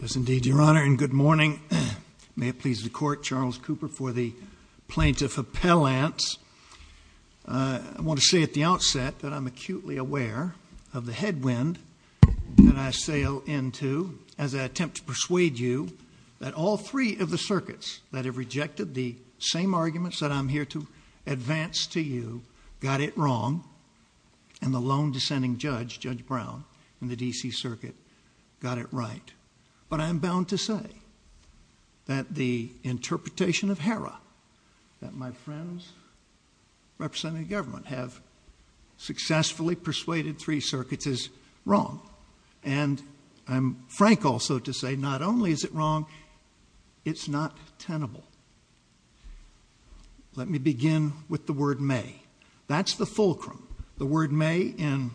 Yes indeed, Your Honor, and good morning. May it please the Court, Charles Cooper for the Plaintiff Appellant. I want to say at the outset that I'm acutely aware of the headwind that I sail into as I attempt to persuade you that all three of the circuits that have rejected the same arguments that I'm here to advance to you got it wrong, and the lone dissenting judge, Judge Brown, in the D.C. Circuit got it right. But I'm bound to say that the interpretation of HERA that my friends representing the government have successfully persuaded three circuits is wrong. And I'm frank also to say not only is it wrong, it's not tenable. Let me begin with the word may. That's the fulcrum. The word may in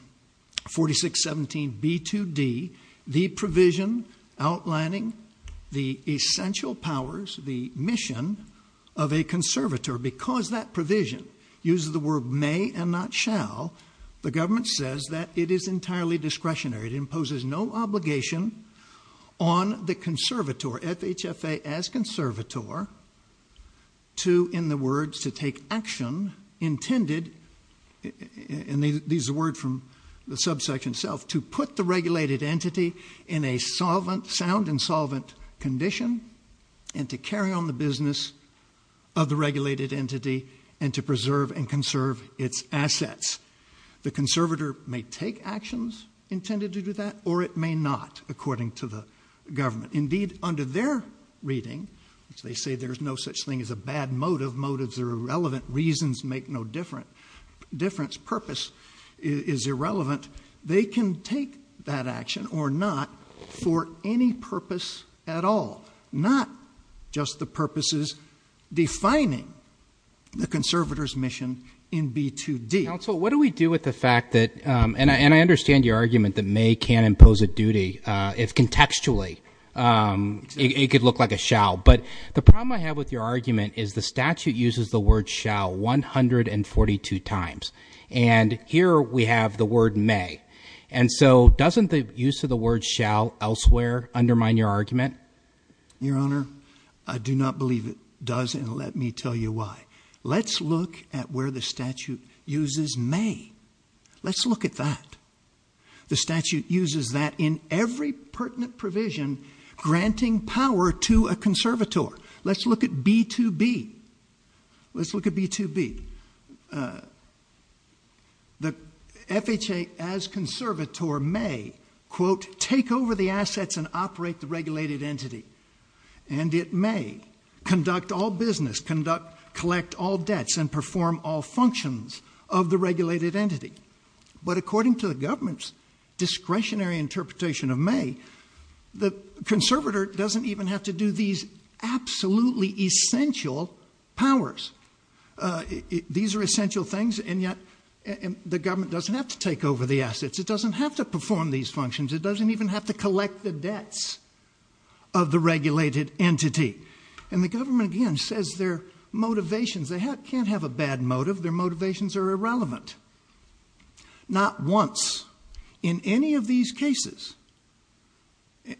4617b2d, the provision outlining the essential powers, the mission of a conservator. Because that provision uses the word may and not shall, the government says that it is entirely discretionary. It imposes no obligation on the conservator, FHFA as conservator, to, in the words, to take action intended, and these are words from the subsection itself, to put the regulated entity in a sound and solvent condition and to carry on the business of the regulated entity and to preserve and conserve its assets. The conservator may take actions intended to do that or it may not, according to the government. Indeed, under their reading, which they say there's no such thing as a bad motive, motives are irrelevant, reasons make no difference, purpose is irrelevant, they can take that action or not for any purpose at all, not just the purposes defining the conservator's mission in B2D. Counsel, what do we do with the fact that, and I understand your argument that may can't impose a duty, if contextually it could look like a shall, but the problem I have with your argument is the statute uses the word shall 142 times, and here we have the word may, and so doesn't the use of the word shall elsewhere undermine your argument? Your Honor, I do not believe it does, and let me tell you why. Let's look at where the word is may. Let's look at that. The statute uses that in every pertinent provision granting power to a conservator. Let's look at B2B. Let's look at B2B. The FHA as conservator may, quote, take over the assets and operate the regulated entity, and it may conduct all debts and perform all functions of the regulated entity, but according to the government's discretionary interpretation of may, the conservator doesn't even have to do these absolutely essential powers. These are essential things, and yet the government doesn't have to take over the assets. It doesn't have to perform these functions. It doesn't even have to collect the debts of the regulated entity, and the government again says their motivations, they can't have a bad motive. Their motivations are irrelevant. Not once in any of these cases,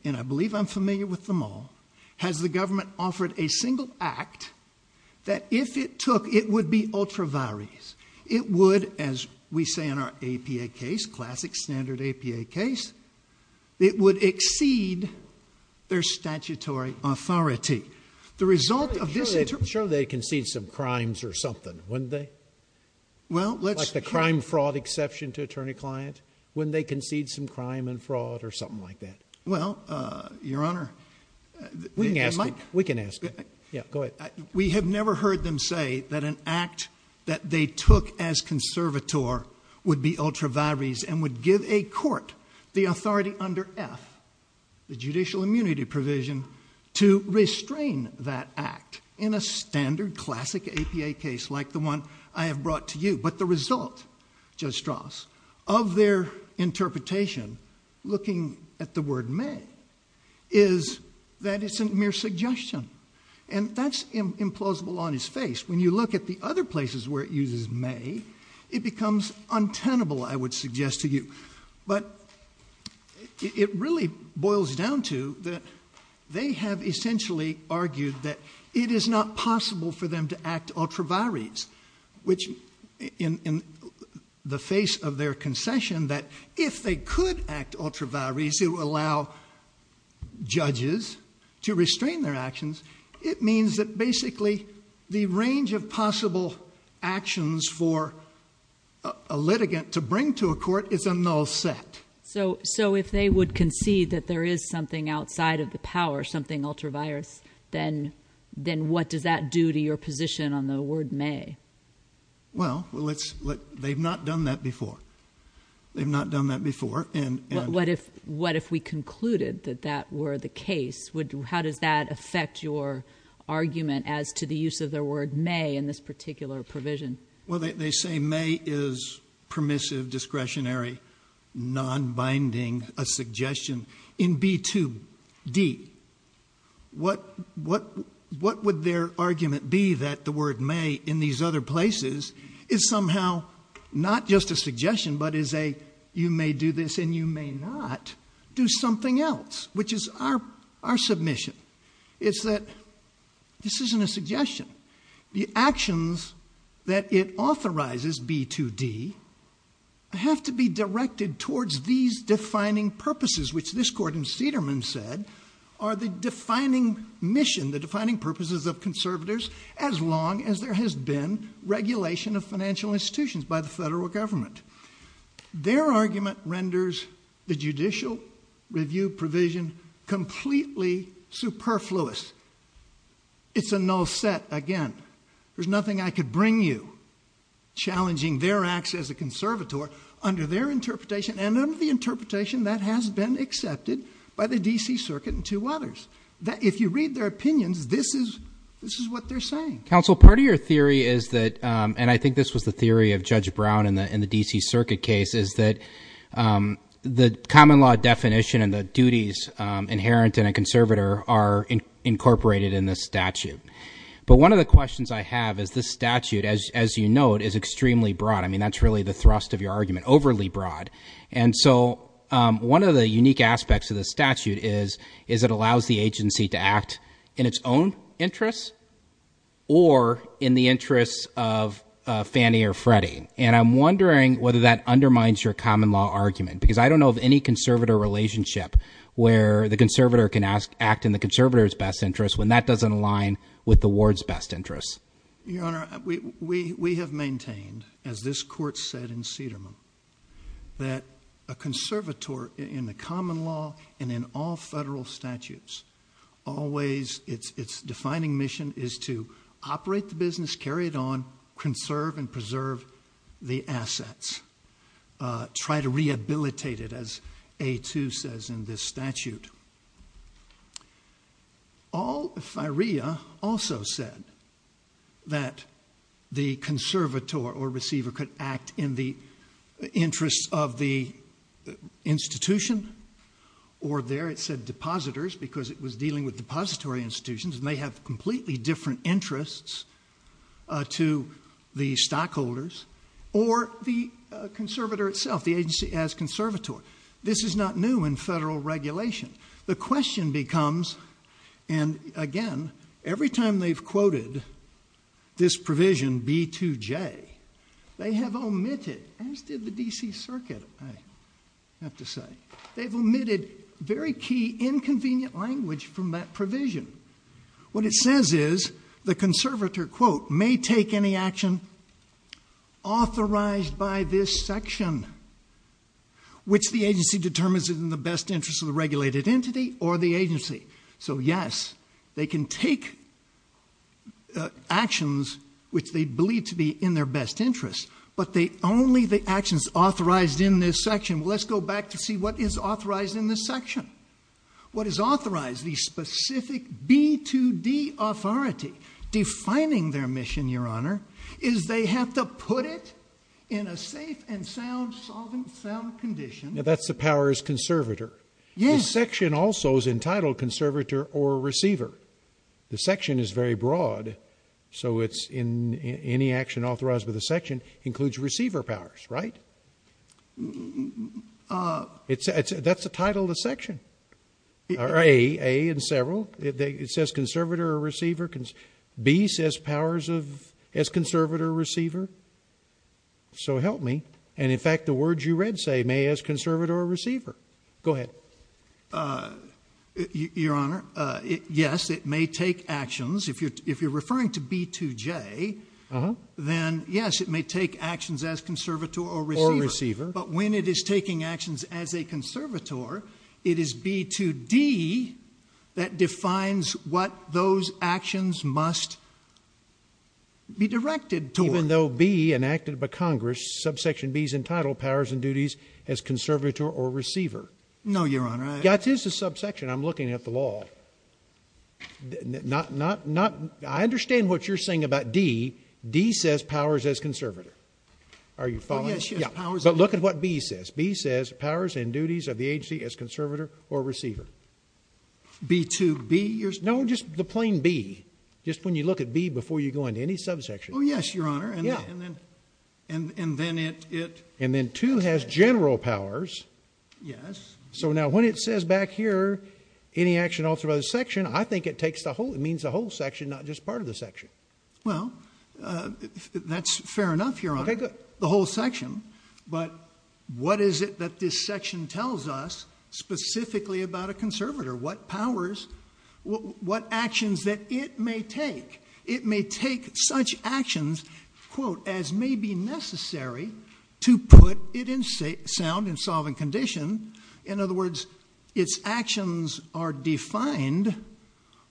and I believe I'm familiar with them all, has the government offered a single act that if it took, it would be ultraviolet. It would, as we say in our APA case, classic standard APA case, it would exceed their statutory authority. The result of this interpretation... Sure they concede some crimes or something, wouldn't they? Like the crime fraud exception to attorney client. Wouldn't they concede some crime and fraud or something like that? Well, Your Honor... We can ask them. We can ask them. Go ahead. We have never heard them say that an act that they took as conservator would be ultraviolet and would give a court the authority under F, the judicial immunity provision, to restrain that act in a standard classic APA case like the one I have brought to you. But the result, Judge Strauss, of their interpretation, looking at the word may, is that it's a mere suggestion, and that's implausible on its face. When you look at the other places where it uses may, it becomes untenable, I would suggest to you. But it really boils down to that they have essentially argued that it is not possible for them to act ultraviores, which in the face of their concession that if they could act ultraviores, it would allow judges to concede. It means that basically the range of possible actions for a litigant to bring to a court is a null set. So if they would concede that there is something outside of the power, something ultraviores, then what does that do to your position on the word may? Well, they've not done that before. They've not done that before. What if we concluded that that were the case? How does that affect your argument as to the use of the word may in this particular provision? Well, they say may is permissive, discretionary, non-binding, a suggestion. In B2D, what would their argument be that the word may in these other places is somehow not just a suggestion but is a you may do this and you may not do something else, which is our submission. It's that this isn't a suggestion. The actions that it authorizes, B2D, have to be directed towards these defining purposes, which this court in Cederman said are the defining mission, the defining purposes of conservators as long as there has been regulation of financial institutions by the federal government. Their argument renders the judicial review provision completely superfluous. It's a null set again. There's nothing I could bring you challenging their acts as a conservator under their interpretation and under the interpretation that has been accepted by the D.C. Circuit and two others. If you read their opinions, this is what they're saying. Counsel, part of your theory is that, and I think this was the theory of Judge Brown in the D.C. Circuit case, is that the common law definition and the duties inherent in a conservator are incorporated in this statute. But one of the questions I have is this statute, as you note, is extremely broad. I mean, that's really the thrust of your argument, overly broad. And so one of the unique aspects of this statute is it allows the agency to act in its own interests or in the interests of Fannie or Freddie. And I'm wondering whether that undermines your common law argument, because I don't know of any conservator relationship where the conservator can act in the conservator's best interest when that doesn't align with the ward's best interest. Your Honor, we have maintained, as this Court said in Cederman, that a conservator in the federal statutes always, its defining mission is to operate the business, carry it on, conserve and preserve the assets, try to rehabilitate it, as A. 2 says in this statute. All, if I rea, also said that the conservator or receiver could act in the interests of the institution, or there it said depositors, because it was dealing with depository institutions and they have completely different interests to the stockholders, or the conservator itself, the agency as conservatory. This is not new in federal regulation. The question becomes, and again, every time they've quoted this provision, B. 2J, they have omitted, as did the D.C. Circuit, I have to say, they've omitted very key, inconvenient language from that provision. What it says is the conservator, quote, may take any action authorized by this section which the agency determines is in the best interest of the regulated entity or the agency. So yes, they can take actions which they believe to be in their best interest, but only the actions authorized in this section. Well, let's go back to see what is authorized in this section. What is authorized, the specific B. 2D authority, defining their mission, Your Honor, is they have to put it in a safe and sound, solvent, sound condition. Now, that's the powers conservator. Yes. The section also is entitled conservator or receiver. The section is very broad, so it's in any action authorized by the section includes receiver powers, right? That's the title of the section, A in several. It says conservator or receiver. B says powers of as conservator or receiver. So help me. And in fact, the words you read say may as conservator or receiver. Go ahead. Well, Your Honor, yes, it may take actions. If you're referring to B. 2J, then yes, it may take actions as conservator or receiver. Or receiver. But when it is taking actions as a conservator, it is B. 2D that defines what those actions must be directed toward. Even though B enacted by Congress, subsection B is entitled powers and duties as conservator or receiver. No, Your Honor. That is a subsection. I'm looking at the law. I understand what you're saying about D. D says powers as conservator. Are you following? Oh, yes, yes. Powers and duties. But look at what B says. B says powers and duties of the agency as conservator or receiver. B. 2B, you're saying? No, just the plain B. Just when you look at B before you go into any subsection. Oh, yes, Your Honor. And then it... And then 2 has general powers. Yes. So now when it says back here, any action authorized by the section, I think it means the whole section, not just part of the section. Well, that's fair enough, Your Honor. The whole section. But what is it that this section tells us specifically about a conservator? What powers, what actions that it may take? It may take such actions, quote, as may be necessary to put it in sound in solving a problem condition. In other words, its actions are defined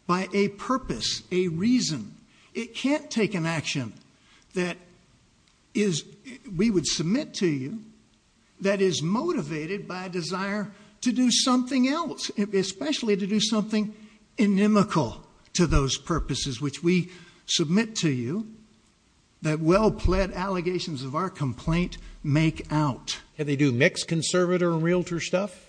by a purpose, a reason. It can't take an action that is... We would submit to you that is motivated by a desire to do something else, especially to do something inimical to those purposes, which we submit to you that well-pled allegations of our complaint make out. And they do mixed conservator and realtor stuff?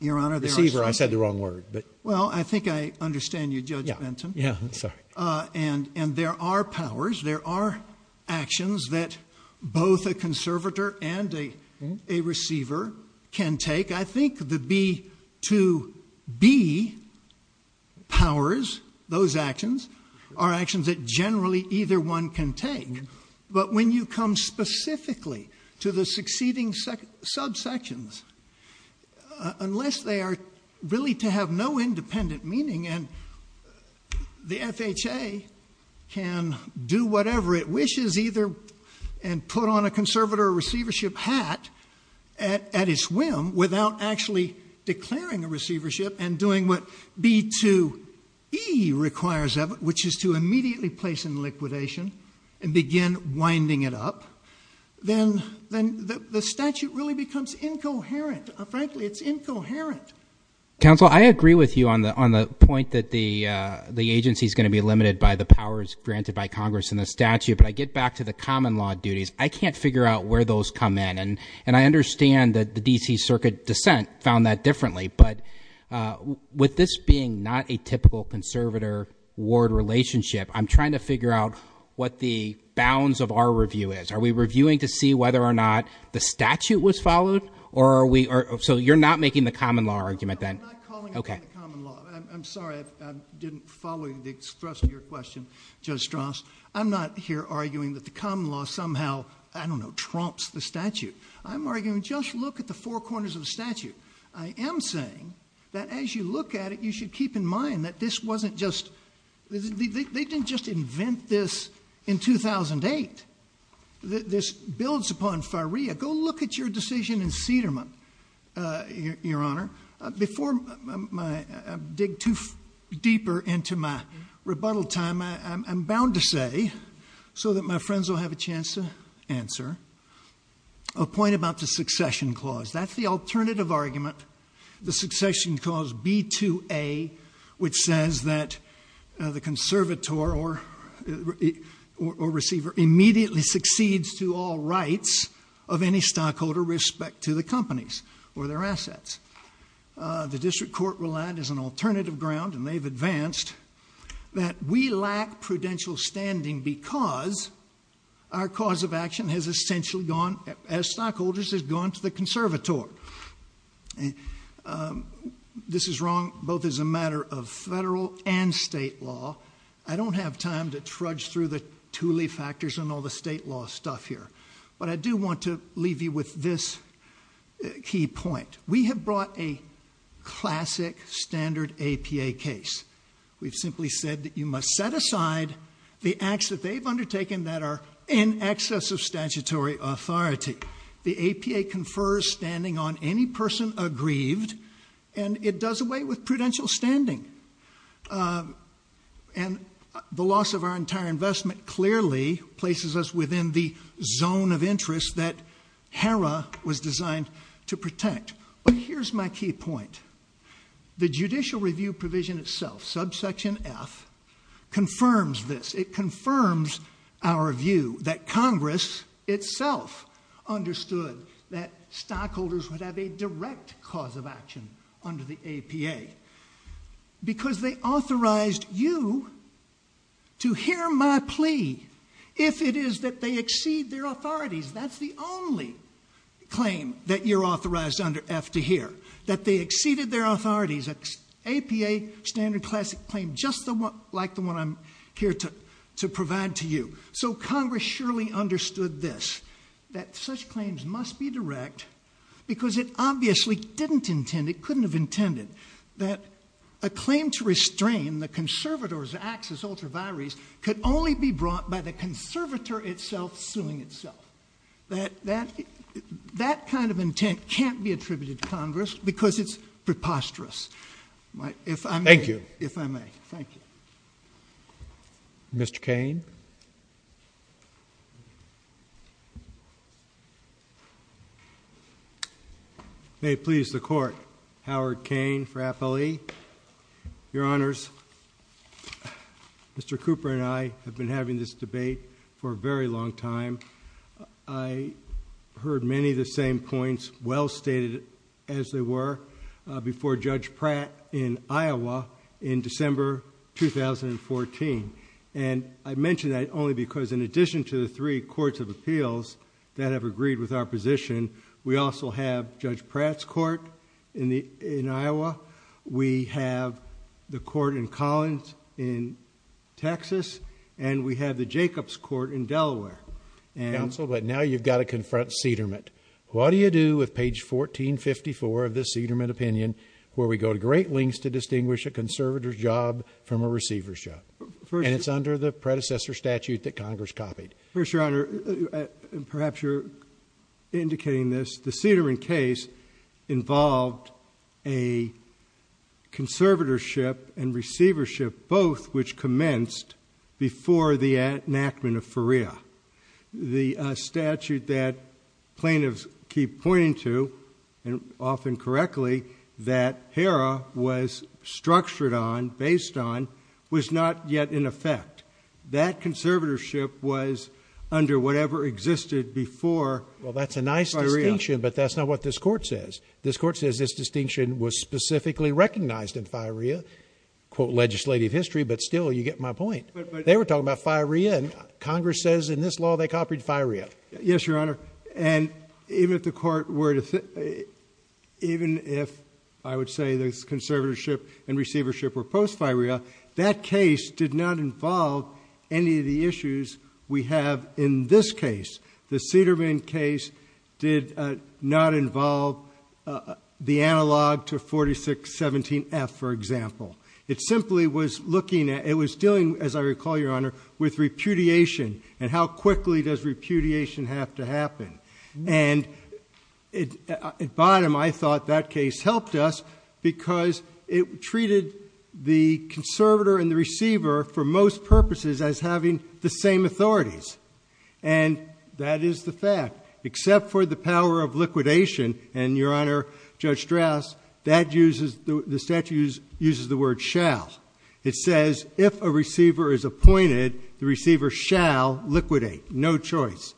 Your Honor, there are... Receiver. I said the wrong word, but... Well, I think I understand you, Judge Benton. Yeah, I'm sorry. And there are powers, there are actions that both a conservator and a receiver can take. I think the B to B powers, those actions, are actions that generally either one can take, but when you come specifically to the succeeding subsections, unless they are really to have no independent meaning, and the FHA can do whatever it wishes either and put on a conservator or receivership hat at its whim without actually declaring a receivership and doing what B to E requires of it, which is to immediately place in liquidation and begin winding it up, then the statute really becomes incoherent. Frankly, it's incoherent. Counsel, I agree with you on the point that the agency is going to be limited by the powers granted by Congress and the statute, but I get back to the common law duties. I can't figure out where those come in, and I understand that the D.C. Circuit dissent found that differently, but with this being not a typical conservator-ward relationship, I'm trying to figure out what the bounds of our review is. Are we reviewing to see whether or not the statute was followed, or are we—so you're not making the common law argument, then? No, I'm not calling it the common law. I'm sorry I didn't follow the thrust of your question, Judge Strauss. I'm not here arguing that the common law somehow, I don't know, trumps the saying, that as you look at it, you should keep in mind that this wasn't just—they didn't just invent this in 2008. This builds upon Faria. Go look at your decision in Cedermont, Your Honor. Before I dig too deeper into my rebuttal time, I'm bound to say, so that my friends will have a chance to answer, a point about the succession clause. That's the alternative argument. The succession clause, B2A, which says that the conservator or receiver immediately succeeds to all rights of any stockholder with respect to the companies or their assets. The district court relied as an alternative ground, and they've advanced, that we lack prudential standing because our cause of action has essentially gone, as stockholders, has gone. This is wrong, both as a matter of federal and state law. I don't have time to trudge through the Thule factors and all the state law stuff here, but I do want to leave you with this key point. We have brought a classic, standard APA case. We've simply said that you must set aside the acts that they've undertaken that are in excess of statutory authority. The APA confers standing on any person aggrieved, and it does away with prudential standing. The loss of our entire investment clearly places us within the zone of interest that HERA was designed to protect. Here's my key point. The judicial review provision itself, subsection F, confirms this. It confirms our view that Congress itself understood that stockholders would have a direct cause of action under the APA because they authorized you to hear my plea if it is that they exceed their authorities. That's the only claim that you're authorized under F to hear. That they exceeded their authorities, APA standard classic claim, just like the one I'm here to provide to you. So Congress surely understood this, that such claims must be direct because it obviously didn't intend, it couldn't have intended that a claim to restrain the conservator's acts as ultraviaries could only be brought by the conservator itself suing itself. That kind of intent can't be attributed to Congress because it's preposterous. If I may. Thank you. Mr. Cain. May it please the Court, Howard for a very long time. I heard many of the same points, well stated as they were, before Judge Pratt in Iowa in December 2014. And I mention that only because in addition to the three courts of appeals that have agreed with our position, we also have Judge Pratt's court in Iowa. We have the court in Collins in Texas, and we have the Judge Pratt's court in Delaware. Counsel, but now you've got to confront Cederment. What do you do with page 1454 of the Cederment opinion where we go to great lengths to distinguish a conservator's job from a receiver's job? And it's under the predecessor statute that Congress copied. First Your Honor, perhaps you're indicating this, the Cederment case involved a conservatorship and receivership both which commenced before the enactment of FIREA. The statute that plaintiffs keep pointing to, and often correctly, that HERA was structured on, based on, was not yet in effect. That conservatorship was under whatever existed before FIREA. Well that's a nice distinction, but that's not what this Court says. This Court says this distinction was specifically recognized in FIREA, quote legislative history, but still you get my point. They were talking about FIREA and Congress says in this law they copied FIREA. Yes Your Honor, and even if the Court were to, even if I would say this conservatorship and receivership were post-FIREA, that case did not involve any of the issues we have in this case. The analog to 4617F for example. It simply was looking at, it was dealing, as I recall Your Honor, with repudiation and how quickly does repudiation have to happen. And at bottom I thought that case helped us because it treated the conservator and the receiver for most purposes as having the same authorities. And that is the fact, except for the power of Congress, that uses, the statute uses the word shall. It says if a receiver is appointed, the receiver shall liquidate. No choice.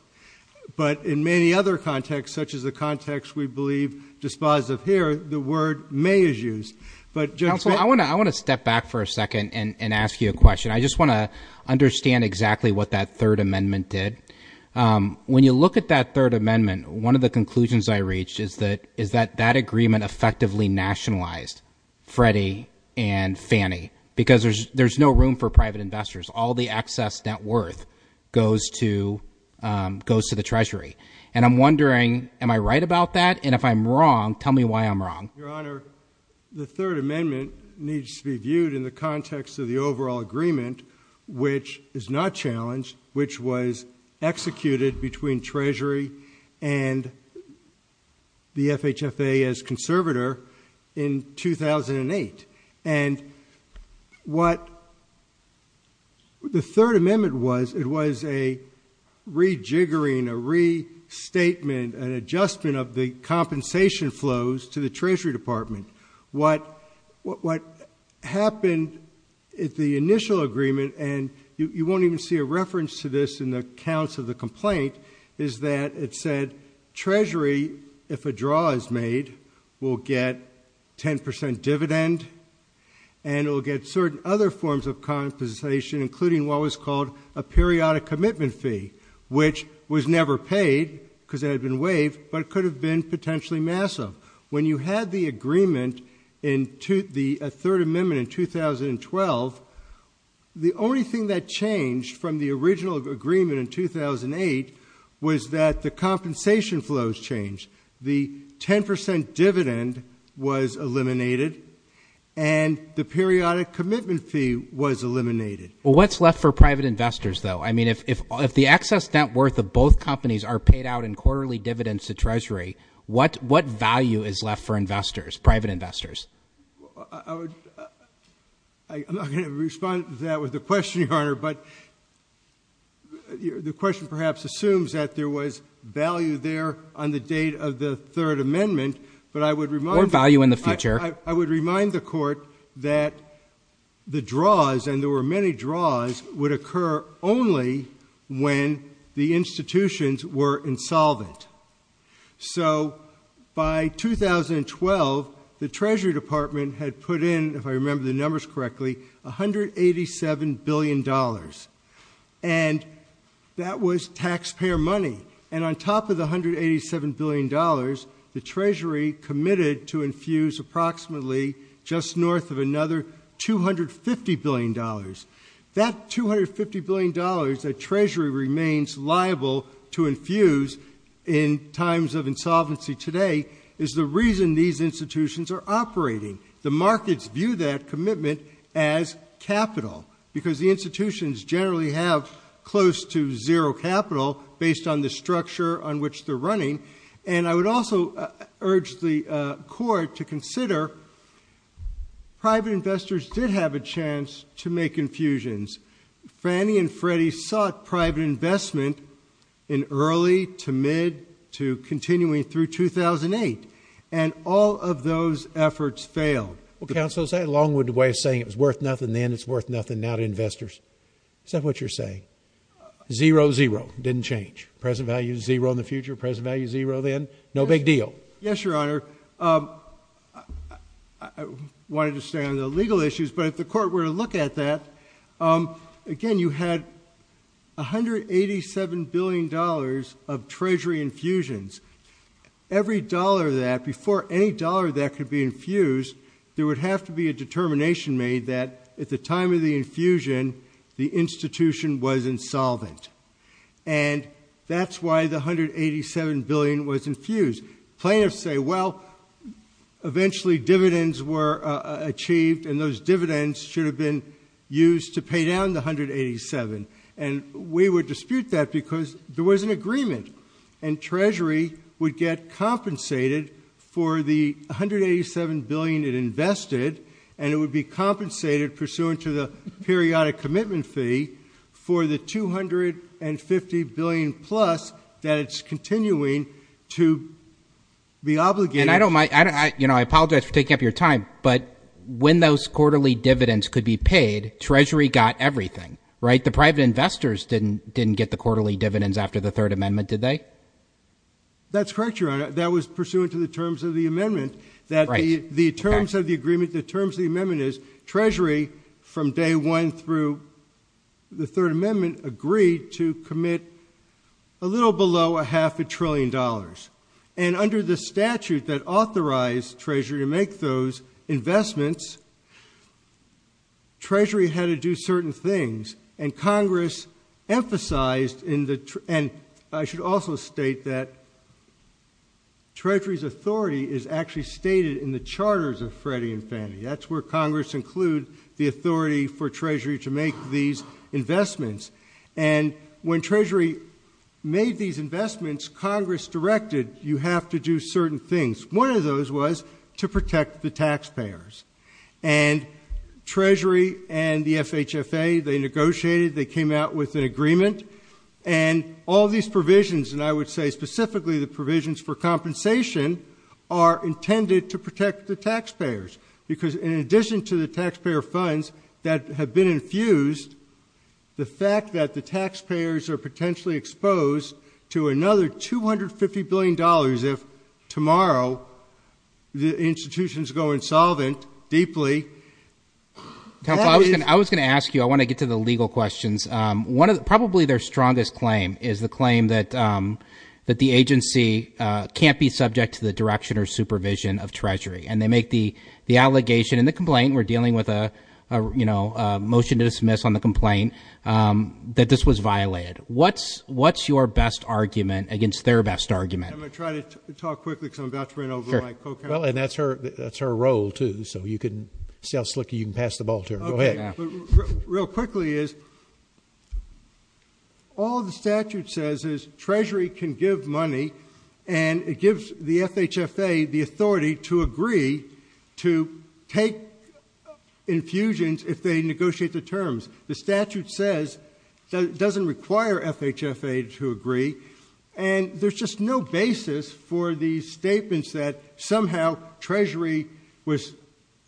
But in many other contexts, such as the context we believe dispositive here, the word may is used. But Judge Bink. Counselor, I want to step back for a second and ask you a question. I just want to understand exactly what that third amendment did. When you look at that third amendment, one of the conclusions I have is that it effectively nationalized Freddie and Fannie. Because there's no room for private investors. All the excess net worth goes to the treasury. And I'm wondering, am I right about that? And if I'm wrong, tell me why I'm wrong. Your Honor, the third amendment needs to be viewed in the context of the overall agreement, which is not challenged, which was executed between treasury and the FHFA as conservator in 2008. And what the third amendment was, it was a rejiggering, a restatement, an adjustment of the compensation flows to the treasury department. What happened at the initial agreement, and you won't even see a reference to this in the accounts of the complaint, is that it said treasury, if a draw is made, will get 10% dividend, and it will get certain other forms of compensation, including what was called a periodic commitment fee, which was never paid, because it had been waived, but it could have been potentially massive. When you had the agreement, the third amendment in 2012, the only thing that changed from the original agreement in 2008 was that the compensation flows changed. The 10% dividend was eliminated, and the periodic commitment fee was eliminated. Well, what's left for private investors, though? I mean, if the excess net worth of both companies are paid out in quarterly dividends to treasury, what value is left for investors, private investors? I'm not going to respond to that with a question, Your Honor, but the question perhaps assumes that there was value there on the date of the third amendment, but I would remind the court that the draws, and there were many draws, would occur only when the institutions were insolvent. So by 2012, the Treasury Department had put in, if I remember the numbers correctly, $187 billion, and that was taxpayer money, and on top of the $187 billion, the Treasury committed to infuse approximately just north of another $250 billion. That $250 billion that Treasury remains liable to infuse in times of insolvency today is the reason these institutions are operating. The markets view that commitment as capital, because the institutions generally have close to zero capital based on the structure on which they're running, and I would also urge the court to consider private investors did have a chance to make infusions. Fannie and Freddie sought private investment in early to mid to continuing through 2008, and all of those efforts failed. Well, Counsel, is that a long-winded way of saying it was worth nothing then, it's worth nothing now to investors? Is that what you're saying? Zero, zero, didn't change. Present value zero in the future, present value zero then, no big deal. Yes, Your Honor. I wanted to stay on the legal issues, but if the court were to look at that, again, you had $187 billion of Treasury infusions. Every dollar of that, before any dollar of that could be infused, there would have to be a determination made that at the time of the infusion, the institution was insolvent, and that's why the $187 billion was infused. Plaintiffs say, well, eventually dividends were achieved, and those dividends should have been used to pay down the $187 billion, and we would dispute that because there was an agreement, and Treasury would get compensated for the $187 billion it invested, and it would be compensated pursuant to the periodic commitment fee for the $250 billion plus that it's continuing to be obligated. And I apologize for taking up your time, but when those quarterly dividends could be paid, Treasury got everything, right? The private investors didn't get the quarterly dividends after the Third Amendment, did they? That's correct, Your Honor. That was pursuant to the terms of the amendment, that the terms of the agreement, the terms of the amendment is Treasury, from day one through the Third Amendment, $187 billion. And under the statute that authorized Treasury to make those investments, Treasury had to do certain things, and Congress emphasized in the—and I should also state that Treasury's authority is actually stated in the charters of Freddie and Fannie. That's where Congress includes the authority for Treasury to make these investments. And when Treasury made these investments, Congress directed, you have to do certain things. One of those was to protect the taxpayers. And Treasury and the FHFA, they negotiated, they came out with an agreement, and all these provisions, and I would say specifically the provisions for compensation, are intended to protect the taxpayers, because in addition to the taxpayer funds that have been infused, the fact that the taxpayers are potentially exposed to another $250 billion if tomorrow the institutions go insolvent deeply— I was going to ask you, I want to get to the legal questions. One of the—probably their strongest claim is the claim that the agency can't be subject to the direction or supervision of Treasury, and they make the allegation in the complaint—we're dealing with a motion to dismiss on the complaint—that this was violated. What's your best argument against their best argument? I'm going to try to talk quickly, because I'm about to run over my co-counselor. Well, and that's her role, too, so you can see how slick you can pass the ball to her. Go ahead. Real quickly is, all the statute says is Treasury can give money, and it gives the FHFA the authority to agree to take infusions if they negotiate the terms. The statute says it doesn't require FHFA to agree, and there's just no basis for these statements that somehow Treasury was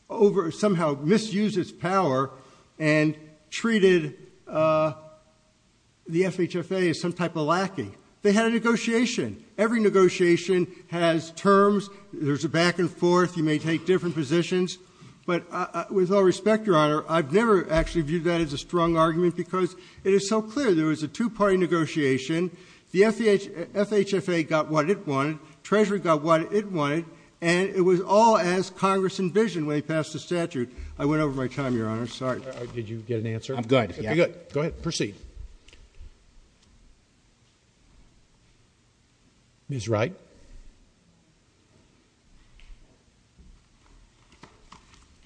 over—somehow misused its power and treated the FHFA as some type of lacking. They had a negotiation. Every negotiation has terms. There's a back-and-forth. You may take different positions. But with all respect, Your Honor, I've never actually viewed that as a strong argument, because it is so clear there was a two-party negotiation. The FHFA got what it wanted. Treasury got what it wanted. And it was all as Congress envisioned when they passed the statute. I went over my time, Your Honor. Sorry. Did you get an answer? I'm good. Okay, good. Go ahead. Proceed. Ms. Wright.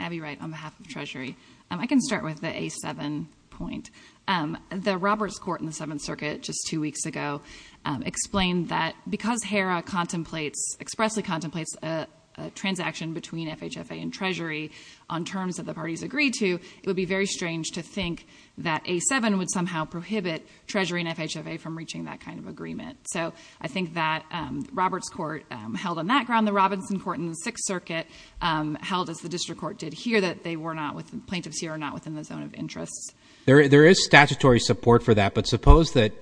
Abby Wright, on behalf of Treasury. I can start with the A7 point. The Roberts Court in the Seventh Circuit just two weeks ago explained that because HERA contemplates—expressly contemplates—a transaction between FHFA and Treasury on terms that the parties agreed to, it would be very strange to think that A7 would somehow prohibit Treasury and FHFA from reaching that kind of agreement. So I think that Roberts Court held on that ground. The Robinson Court in the Sixth Circuit held, as the District Court did here, that they were not—plaintiffs here are not within the zone of interest. There is statutory support for that. But suppose that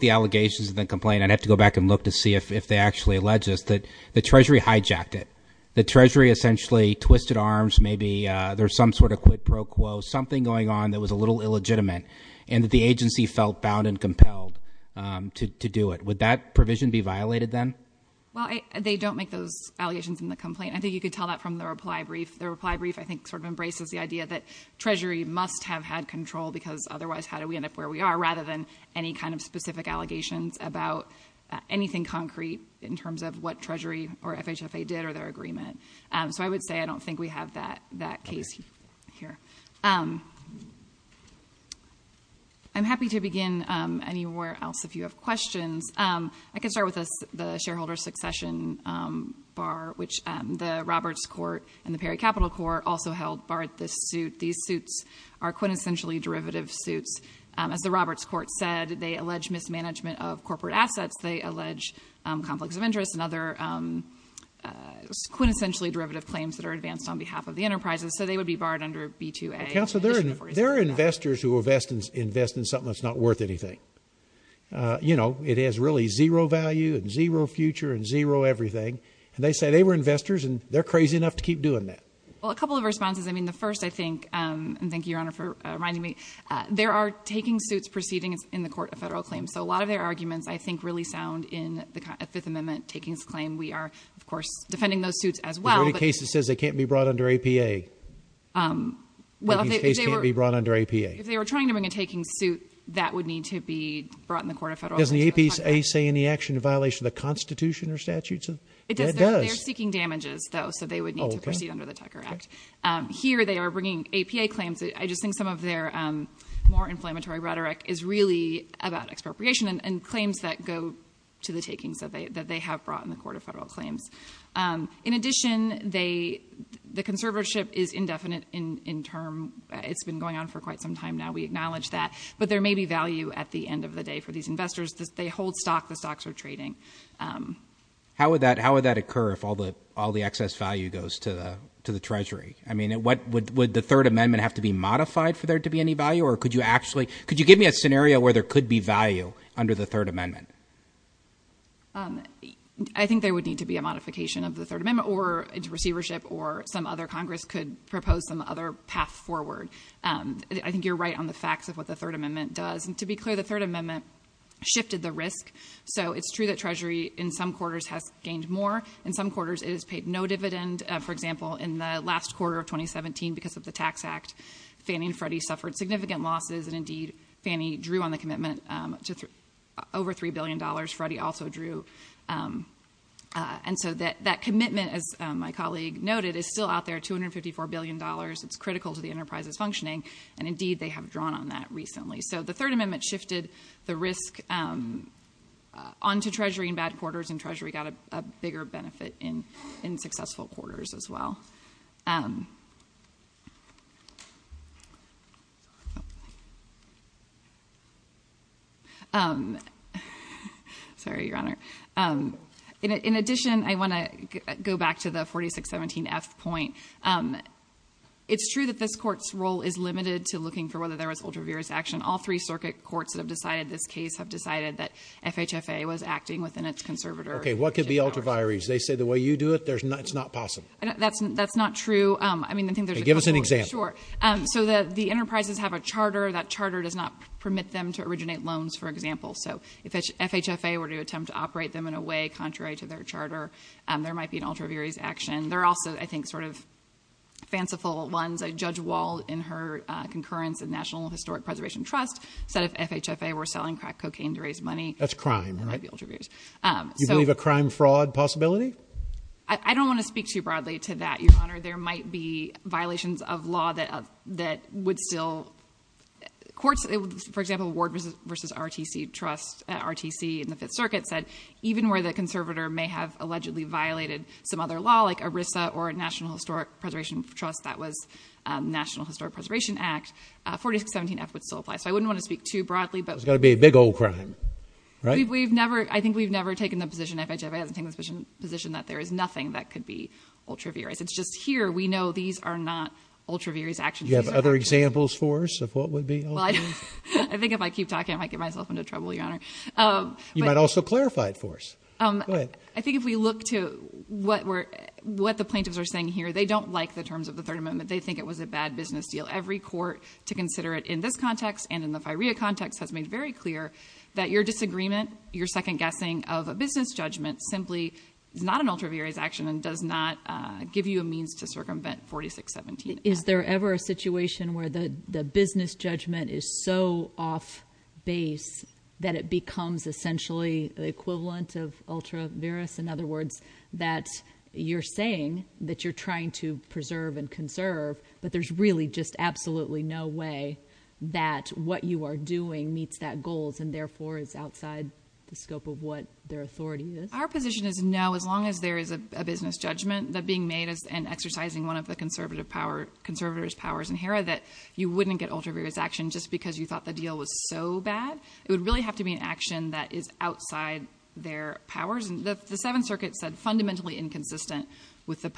the allegations and the complaint—I'd have to go back and look to see if they actually allege this—that the Treasury hijacked it. The Treasury essentially twisted arms. Maybe there's some sort of quid pro quo, something going on that was a little illegitimate, and that the agency felt bound and compelled to do it. Would that provision be violated then? Well, they don't make those allegations in the complaint. I think you could tell that from the reply brief. The reply brief, I think, sort of embraces the idea that Treasury must have had control because otherwise how do we end up where we are, rather than any kind of specific allegations about anything concrete in terms of what Treasury or FHFA did or their agreement. So I would say I don't think we have that case here. I'm happy to begin anywhere else if you have questions. I can start with the shareholder succession bar, which the Roberts Court and the Perry Capital Court also held barred this suit. These suits are quintessentially derivative suits. As the Roberts Court said, they allege mismanagement of corporate assets. They allege conflicts of interest and other quintessentially derivative claims that are advanced on behalf of the enterprises. So they would be barred under B-2A. Counsel, there are investors who invest in something that's not worth anything. You know, it has really zero value and zero future and zero everything. And they say they were investors and they're crazy enough to keep doing that. Well, a couple of responses. I mean, the first, I think, and thank you, Your Honor, for reminding me. There are taking suits proceedings in the Court of Federal Claims. So a lot of their arguments, I think, really sound in the Fifth Amendment takings claim. We are, of course, defending those suits as well. There's already a case that says they can't be brought under APA. Well, if they were... APA's case can't be brought under APA. If they were trying to bring a taking suit, that would need to be brought in the Court of Federal Claims. Doesn't the APA say any action in violation of the Constitution or statutes? It does. And it does. They're seeking damages, though, so they would need to proceed under the Tucker Act. Here they are bringing APA claims. I just think some of their more inflammatory rhetoric is really about expropriation and claims that go to the takings that they have brought in the Court of Federal Claims. In addition, the conservatorship is indefinite in term. It's been going on for quite some time now. We acknowledge that. But there may be value at the end of the day for these investors. They hold stock. The stocks are trading. How would that occur if all the excess value goes to the Treasury? I mean, would the Third Amendment have to be modified for there to be any value? Or could you actually... Could you give me a scenario where there could be value under the Third Amendment? I think there would need to be a modification of the Third Amendment or into receivership or some other Congress could propose some other path forward. I think you're right on the facts of what the Third Amendment does. To be clear, the Third Amendment shifted the risk. It's true that Treasury, in some quarters, has gained more. In some quarters, it has paid no dividend. For example, in the last quarter of 2017, because of the Tax Act, Fannie and Freddie suffered significant losses. Indeed, Fannie drew on the commitment to over $3 billion. Freddie also drew. That commitment, as my colleague noted, is still out there, $254 billion. It's critical to the enterprise's functioning. Indeed, they have drawn on that recently. The Third Amendment shifted the risk onto Treasury in bad quarters, and Treasury got a bigger benefit in successful quarters as well. Sorry, Your Honor. In addition, I want to go back to the 4617F point. It's true that this Court's role is limited to looking for whether there was an ultraviarious action. All three circuit courts that have decided this case have decided that FHFA was acting within its conservator. Okay, what could be ultraviaries? They say the way you do it, it's not possible. That's not true. Give us an example. Sure. The enterprises have a charter. That charter does not permit them to originate loans, for example. If FHFA were to attempt to operate them in a way contrary to their charter, there might be an ultraviarious action. There are also, I think, sort of fanciful ones. Judge Wall, in her concurrence in National Historic Preservation Trust, said if FHFA were selling crack cocaine to raise money, there might be ultraviaries. That's crime, right? Do you believe a crime-fraud possibility? I don't want to speak too broadly to that, Your Honor. There might be violations of law that would still courts. For example, Ward v. RTC in the Fifth Circuit said, even where the conservator may have allegedly violated some other law, like ERISA or National Historic Preservation Trust, that was National Historic Preservation Act, 4617F would still apply. So I wouldn't want to speak too broadly. It's got to be a big old crime, right? I think we've never taken the position, FHFA hasn't taken the position, that there is nothing that could be ultraviarious. It's just here we know these are not ultraviarious actions. Do you have other examples for us of what would be? I think if I keep talking, I might get myself into trouble, Your Honor. You might also clarify it for us. Go ahead. I think if we look to what the plaintiffs are saying here, they don't like the terms of the Third Amendment. They think it was a bad business deal. Every court to consider it in this context and in the FIREA context has made very clear that your disagreement, your second guessing of a business judgment, simply is not an ultraviarious action and does not give you a means to circumvent 4617F. Is there ever a situation where the business judgment is so off base that it becomes essentially the equivalent of ultraviarious? In other words, that you're saying that you're trying to preserve and conserve, but there's really just absolutely no way that what you are doing meets that goals and therefore is outside the scope of what their authority is? Our position is no. As long as there is a business judgment being made and exercising one of the conservators' powers in HERA that you wouldn't get ultraviarious action just because you thought the deal was so bad, it would really have to be an action that is outside their powers. The Seventh Circuit said fundamentally inconsistent,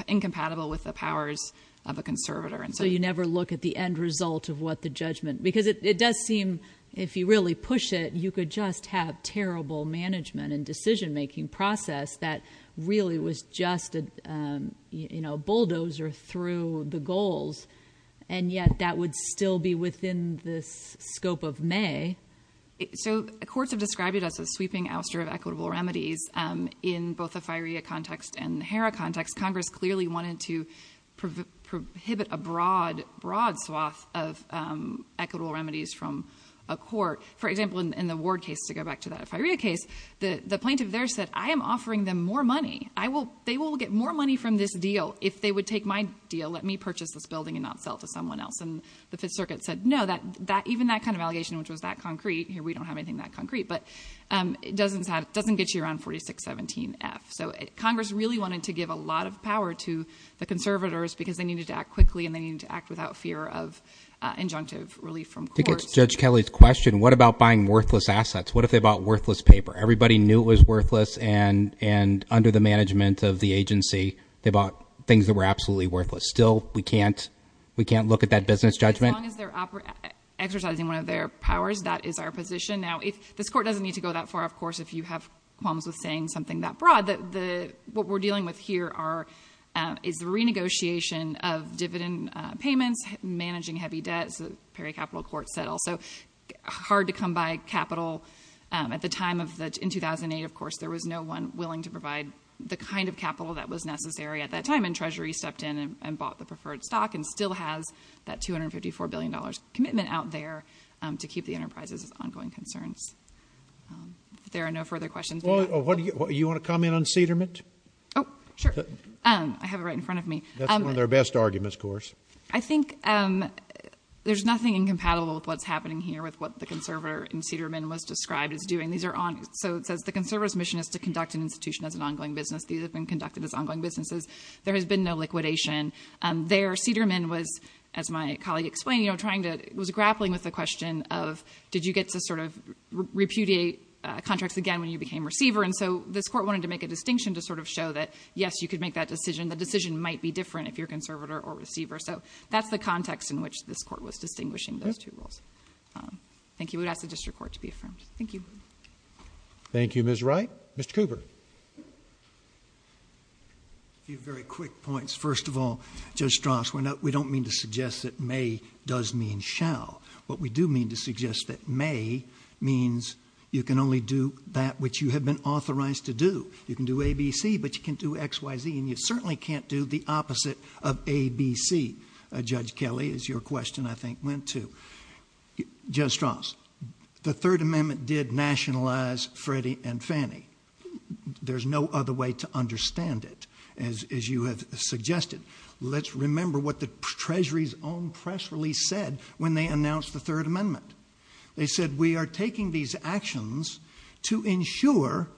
incompatible with the powers of a conservator. So you never look at the end result of what the judgment... Because it does seem if you really push it, you could just have terrible management and decision-making process that really was just a bulldozer through the goals, and yet that would still be within the scope of May. So courts have described it as a sweeping ouster of equitable remedies in both the FIREA context and HERA context. Congress clearly wanted to prohibit a broad swath of equitable remedies from a court. For example, in the Ward case, to go back to that FIREA case, the plaintiff there said, I am offering them more money. They will get more money from this deal if they would take my deal, let me purchase this building and not sell it to someone else. And the Fifth Circuit said, no, even that kind of allegation, which was that concrete, here we don't have anything that concrete, but it doesn't get you around 4617F. So Congress really wanted to give a lot of power to the conservators because they needed to act quickly and they needed to act without fear of injunctive relief from courts. I think it's Judge Kelly's question, what about buying worthless assets? What if they bought worthless paper? Everybody knew it was worthless, and under the management of the agency, they bought things that were absolutely worthless. Still, we can't look at that business judgment. As long as they're exercising one of their powers, that is our position. Now, this Court doesn't need to go that far, of course, if you have qualms with saying something that broad. What we're dealing with here is the renegotiation of dividend payments, managing heavy debt, as the Perry Capital Court said also. Hard to come by capital. At the time, in 2008, of course, there was no one willing to provide the kind of capital that was necessary at that time, and Treasury stepped in and bought the preferred stock and still has that $254 billion commitment out there to keep the enterprises as ongoing concerns. If there are no further questions... Well, you want to comment on Cederman? Oh, sure. I have it right in front of me. That's one of their best arguments, of course. I think there's nothing incompatible with what's happening here with what the conservator in Cederman was described as doing. So it says, the conservator's mission is to conduct an institution as an ongoing business. These have been conducted as ongoing businesses. There has been no liquidation. There, Cederman was, as my colleague explained, was grappling with the question of, did you get to sort of repudiate contracts again when you became receiver? And so this court wanted to make a distinction to sort of show that, yes, you could make that decision. The decision might be different if you're conservator or receiver. So that's the context in which this court was distinguishing those two roles. Thank you. We would ask the district court to be affirmed. Thank you. Thank you, Ms. Wright. Mr. Cooper. A few very quick points. First of all, Judge Strauss, we don't mean to suggest that may does mean shall. What we do mean to suggest that may means you can only do that which you have been authorized to do. You can do ABC, but you can't do XYZ, and you certainly can't do the opposite of ABC. Judge Kelly, as your question, I think, went to. Judge Strauss, the Third Amendment did nationalize Freddie and Fannie. There's no other way to understand it, as you have suggested. Let's remember what the Treasury's own press release said when they announced the Third Amendment. They said, We are taking these actions to ensure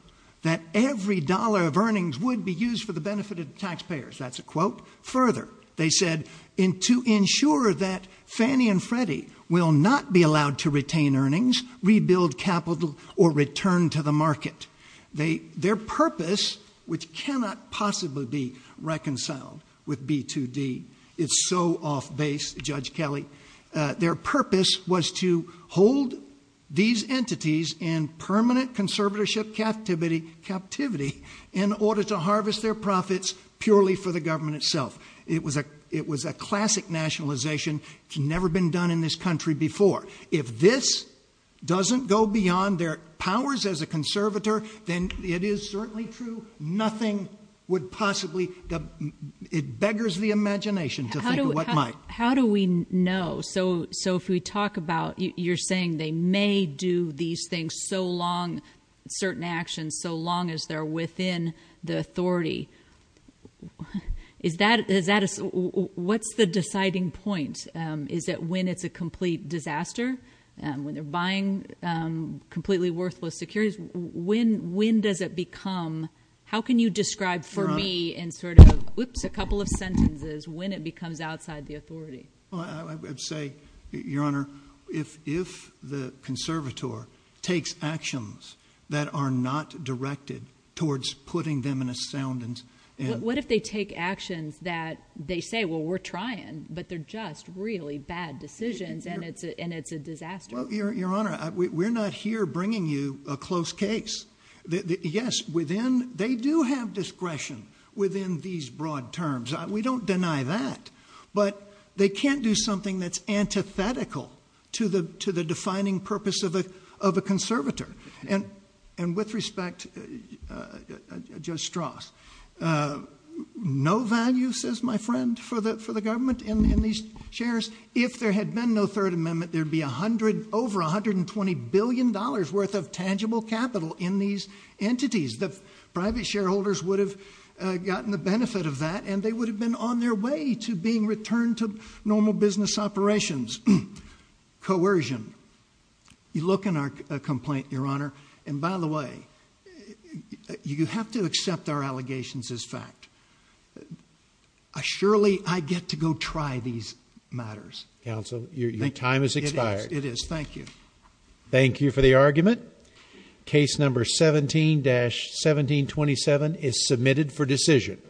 that every dollar of earnings would be used for the benefit of taxpayers. That's a quote. Further, they said, To ensure that Fannie and Freddie will not be allowed to retain earnings, rebuild capital, or return to the market. Their purpose, which cannot possibly be reconciled with B2D, it's so off base, Judge Kelly. Their purpose was to hold these entities in permanent conservatorship captivity in order to harvest their profits purely for the government itself. It was a classic nationalization. It's never been done in this country before. If this doesn't go beyond their powers as a conservator, then it is certainly true nothing would possibly, it beggars the imagination to think of what might. How do we know? So if we talk about, you're saying they may do these things so long, certain actions, so long as they're within the authority. What's the deciding point? Is that when it's a complete disaster, when they're buying completely worthless securities, when does it become, how can you describe for me in sort of, whoops, a couple of sentences, when it becomes outside the authority? I would say, Your Honor, if the conservator takes actions that are not directed towards putting them in a sound and. What if they take actions that they say, well, we're trying, but they're just really bad decisions and it's a disaster. Well, Your Honor, we're not here bringing you a close case. Yes, within, they do have discretion within these broad terms. We don't deny that, but they can't do something that's antithetical to the, to the defining purpose of a, of a conservator. And, and with respect, Judge Strauss, no value says my friend for the, for the government in these chairs, if there had been no third amendment, there'd be a hundred over $120 billion worth of tangible capital in these entities. The private shareholders would have gotten the benefit of that and they would have been on their way to being returned to normal business operations. Coercion. You look in our complaint, Your Honor. And by the way, you have to accept our allegations as fact. I surely I get to go try these matters. Counsel your time is expired. It is. Thank you. Thank you for the argument. Case number 17 dash 1727 is submitted for decision.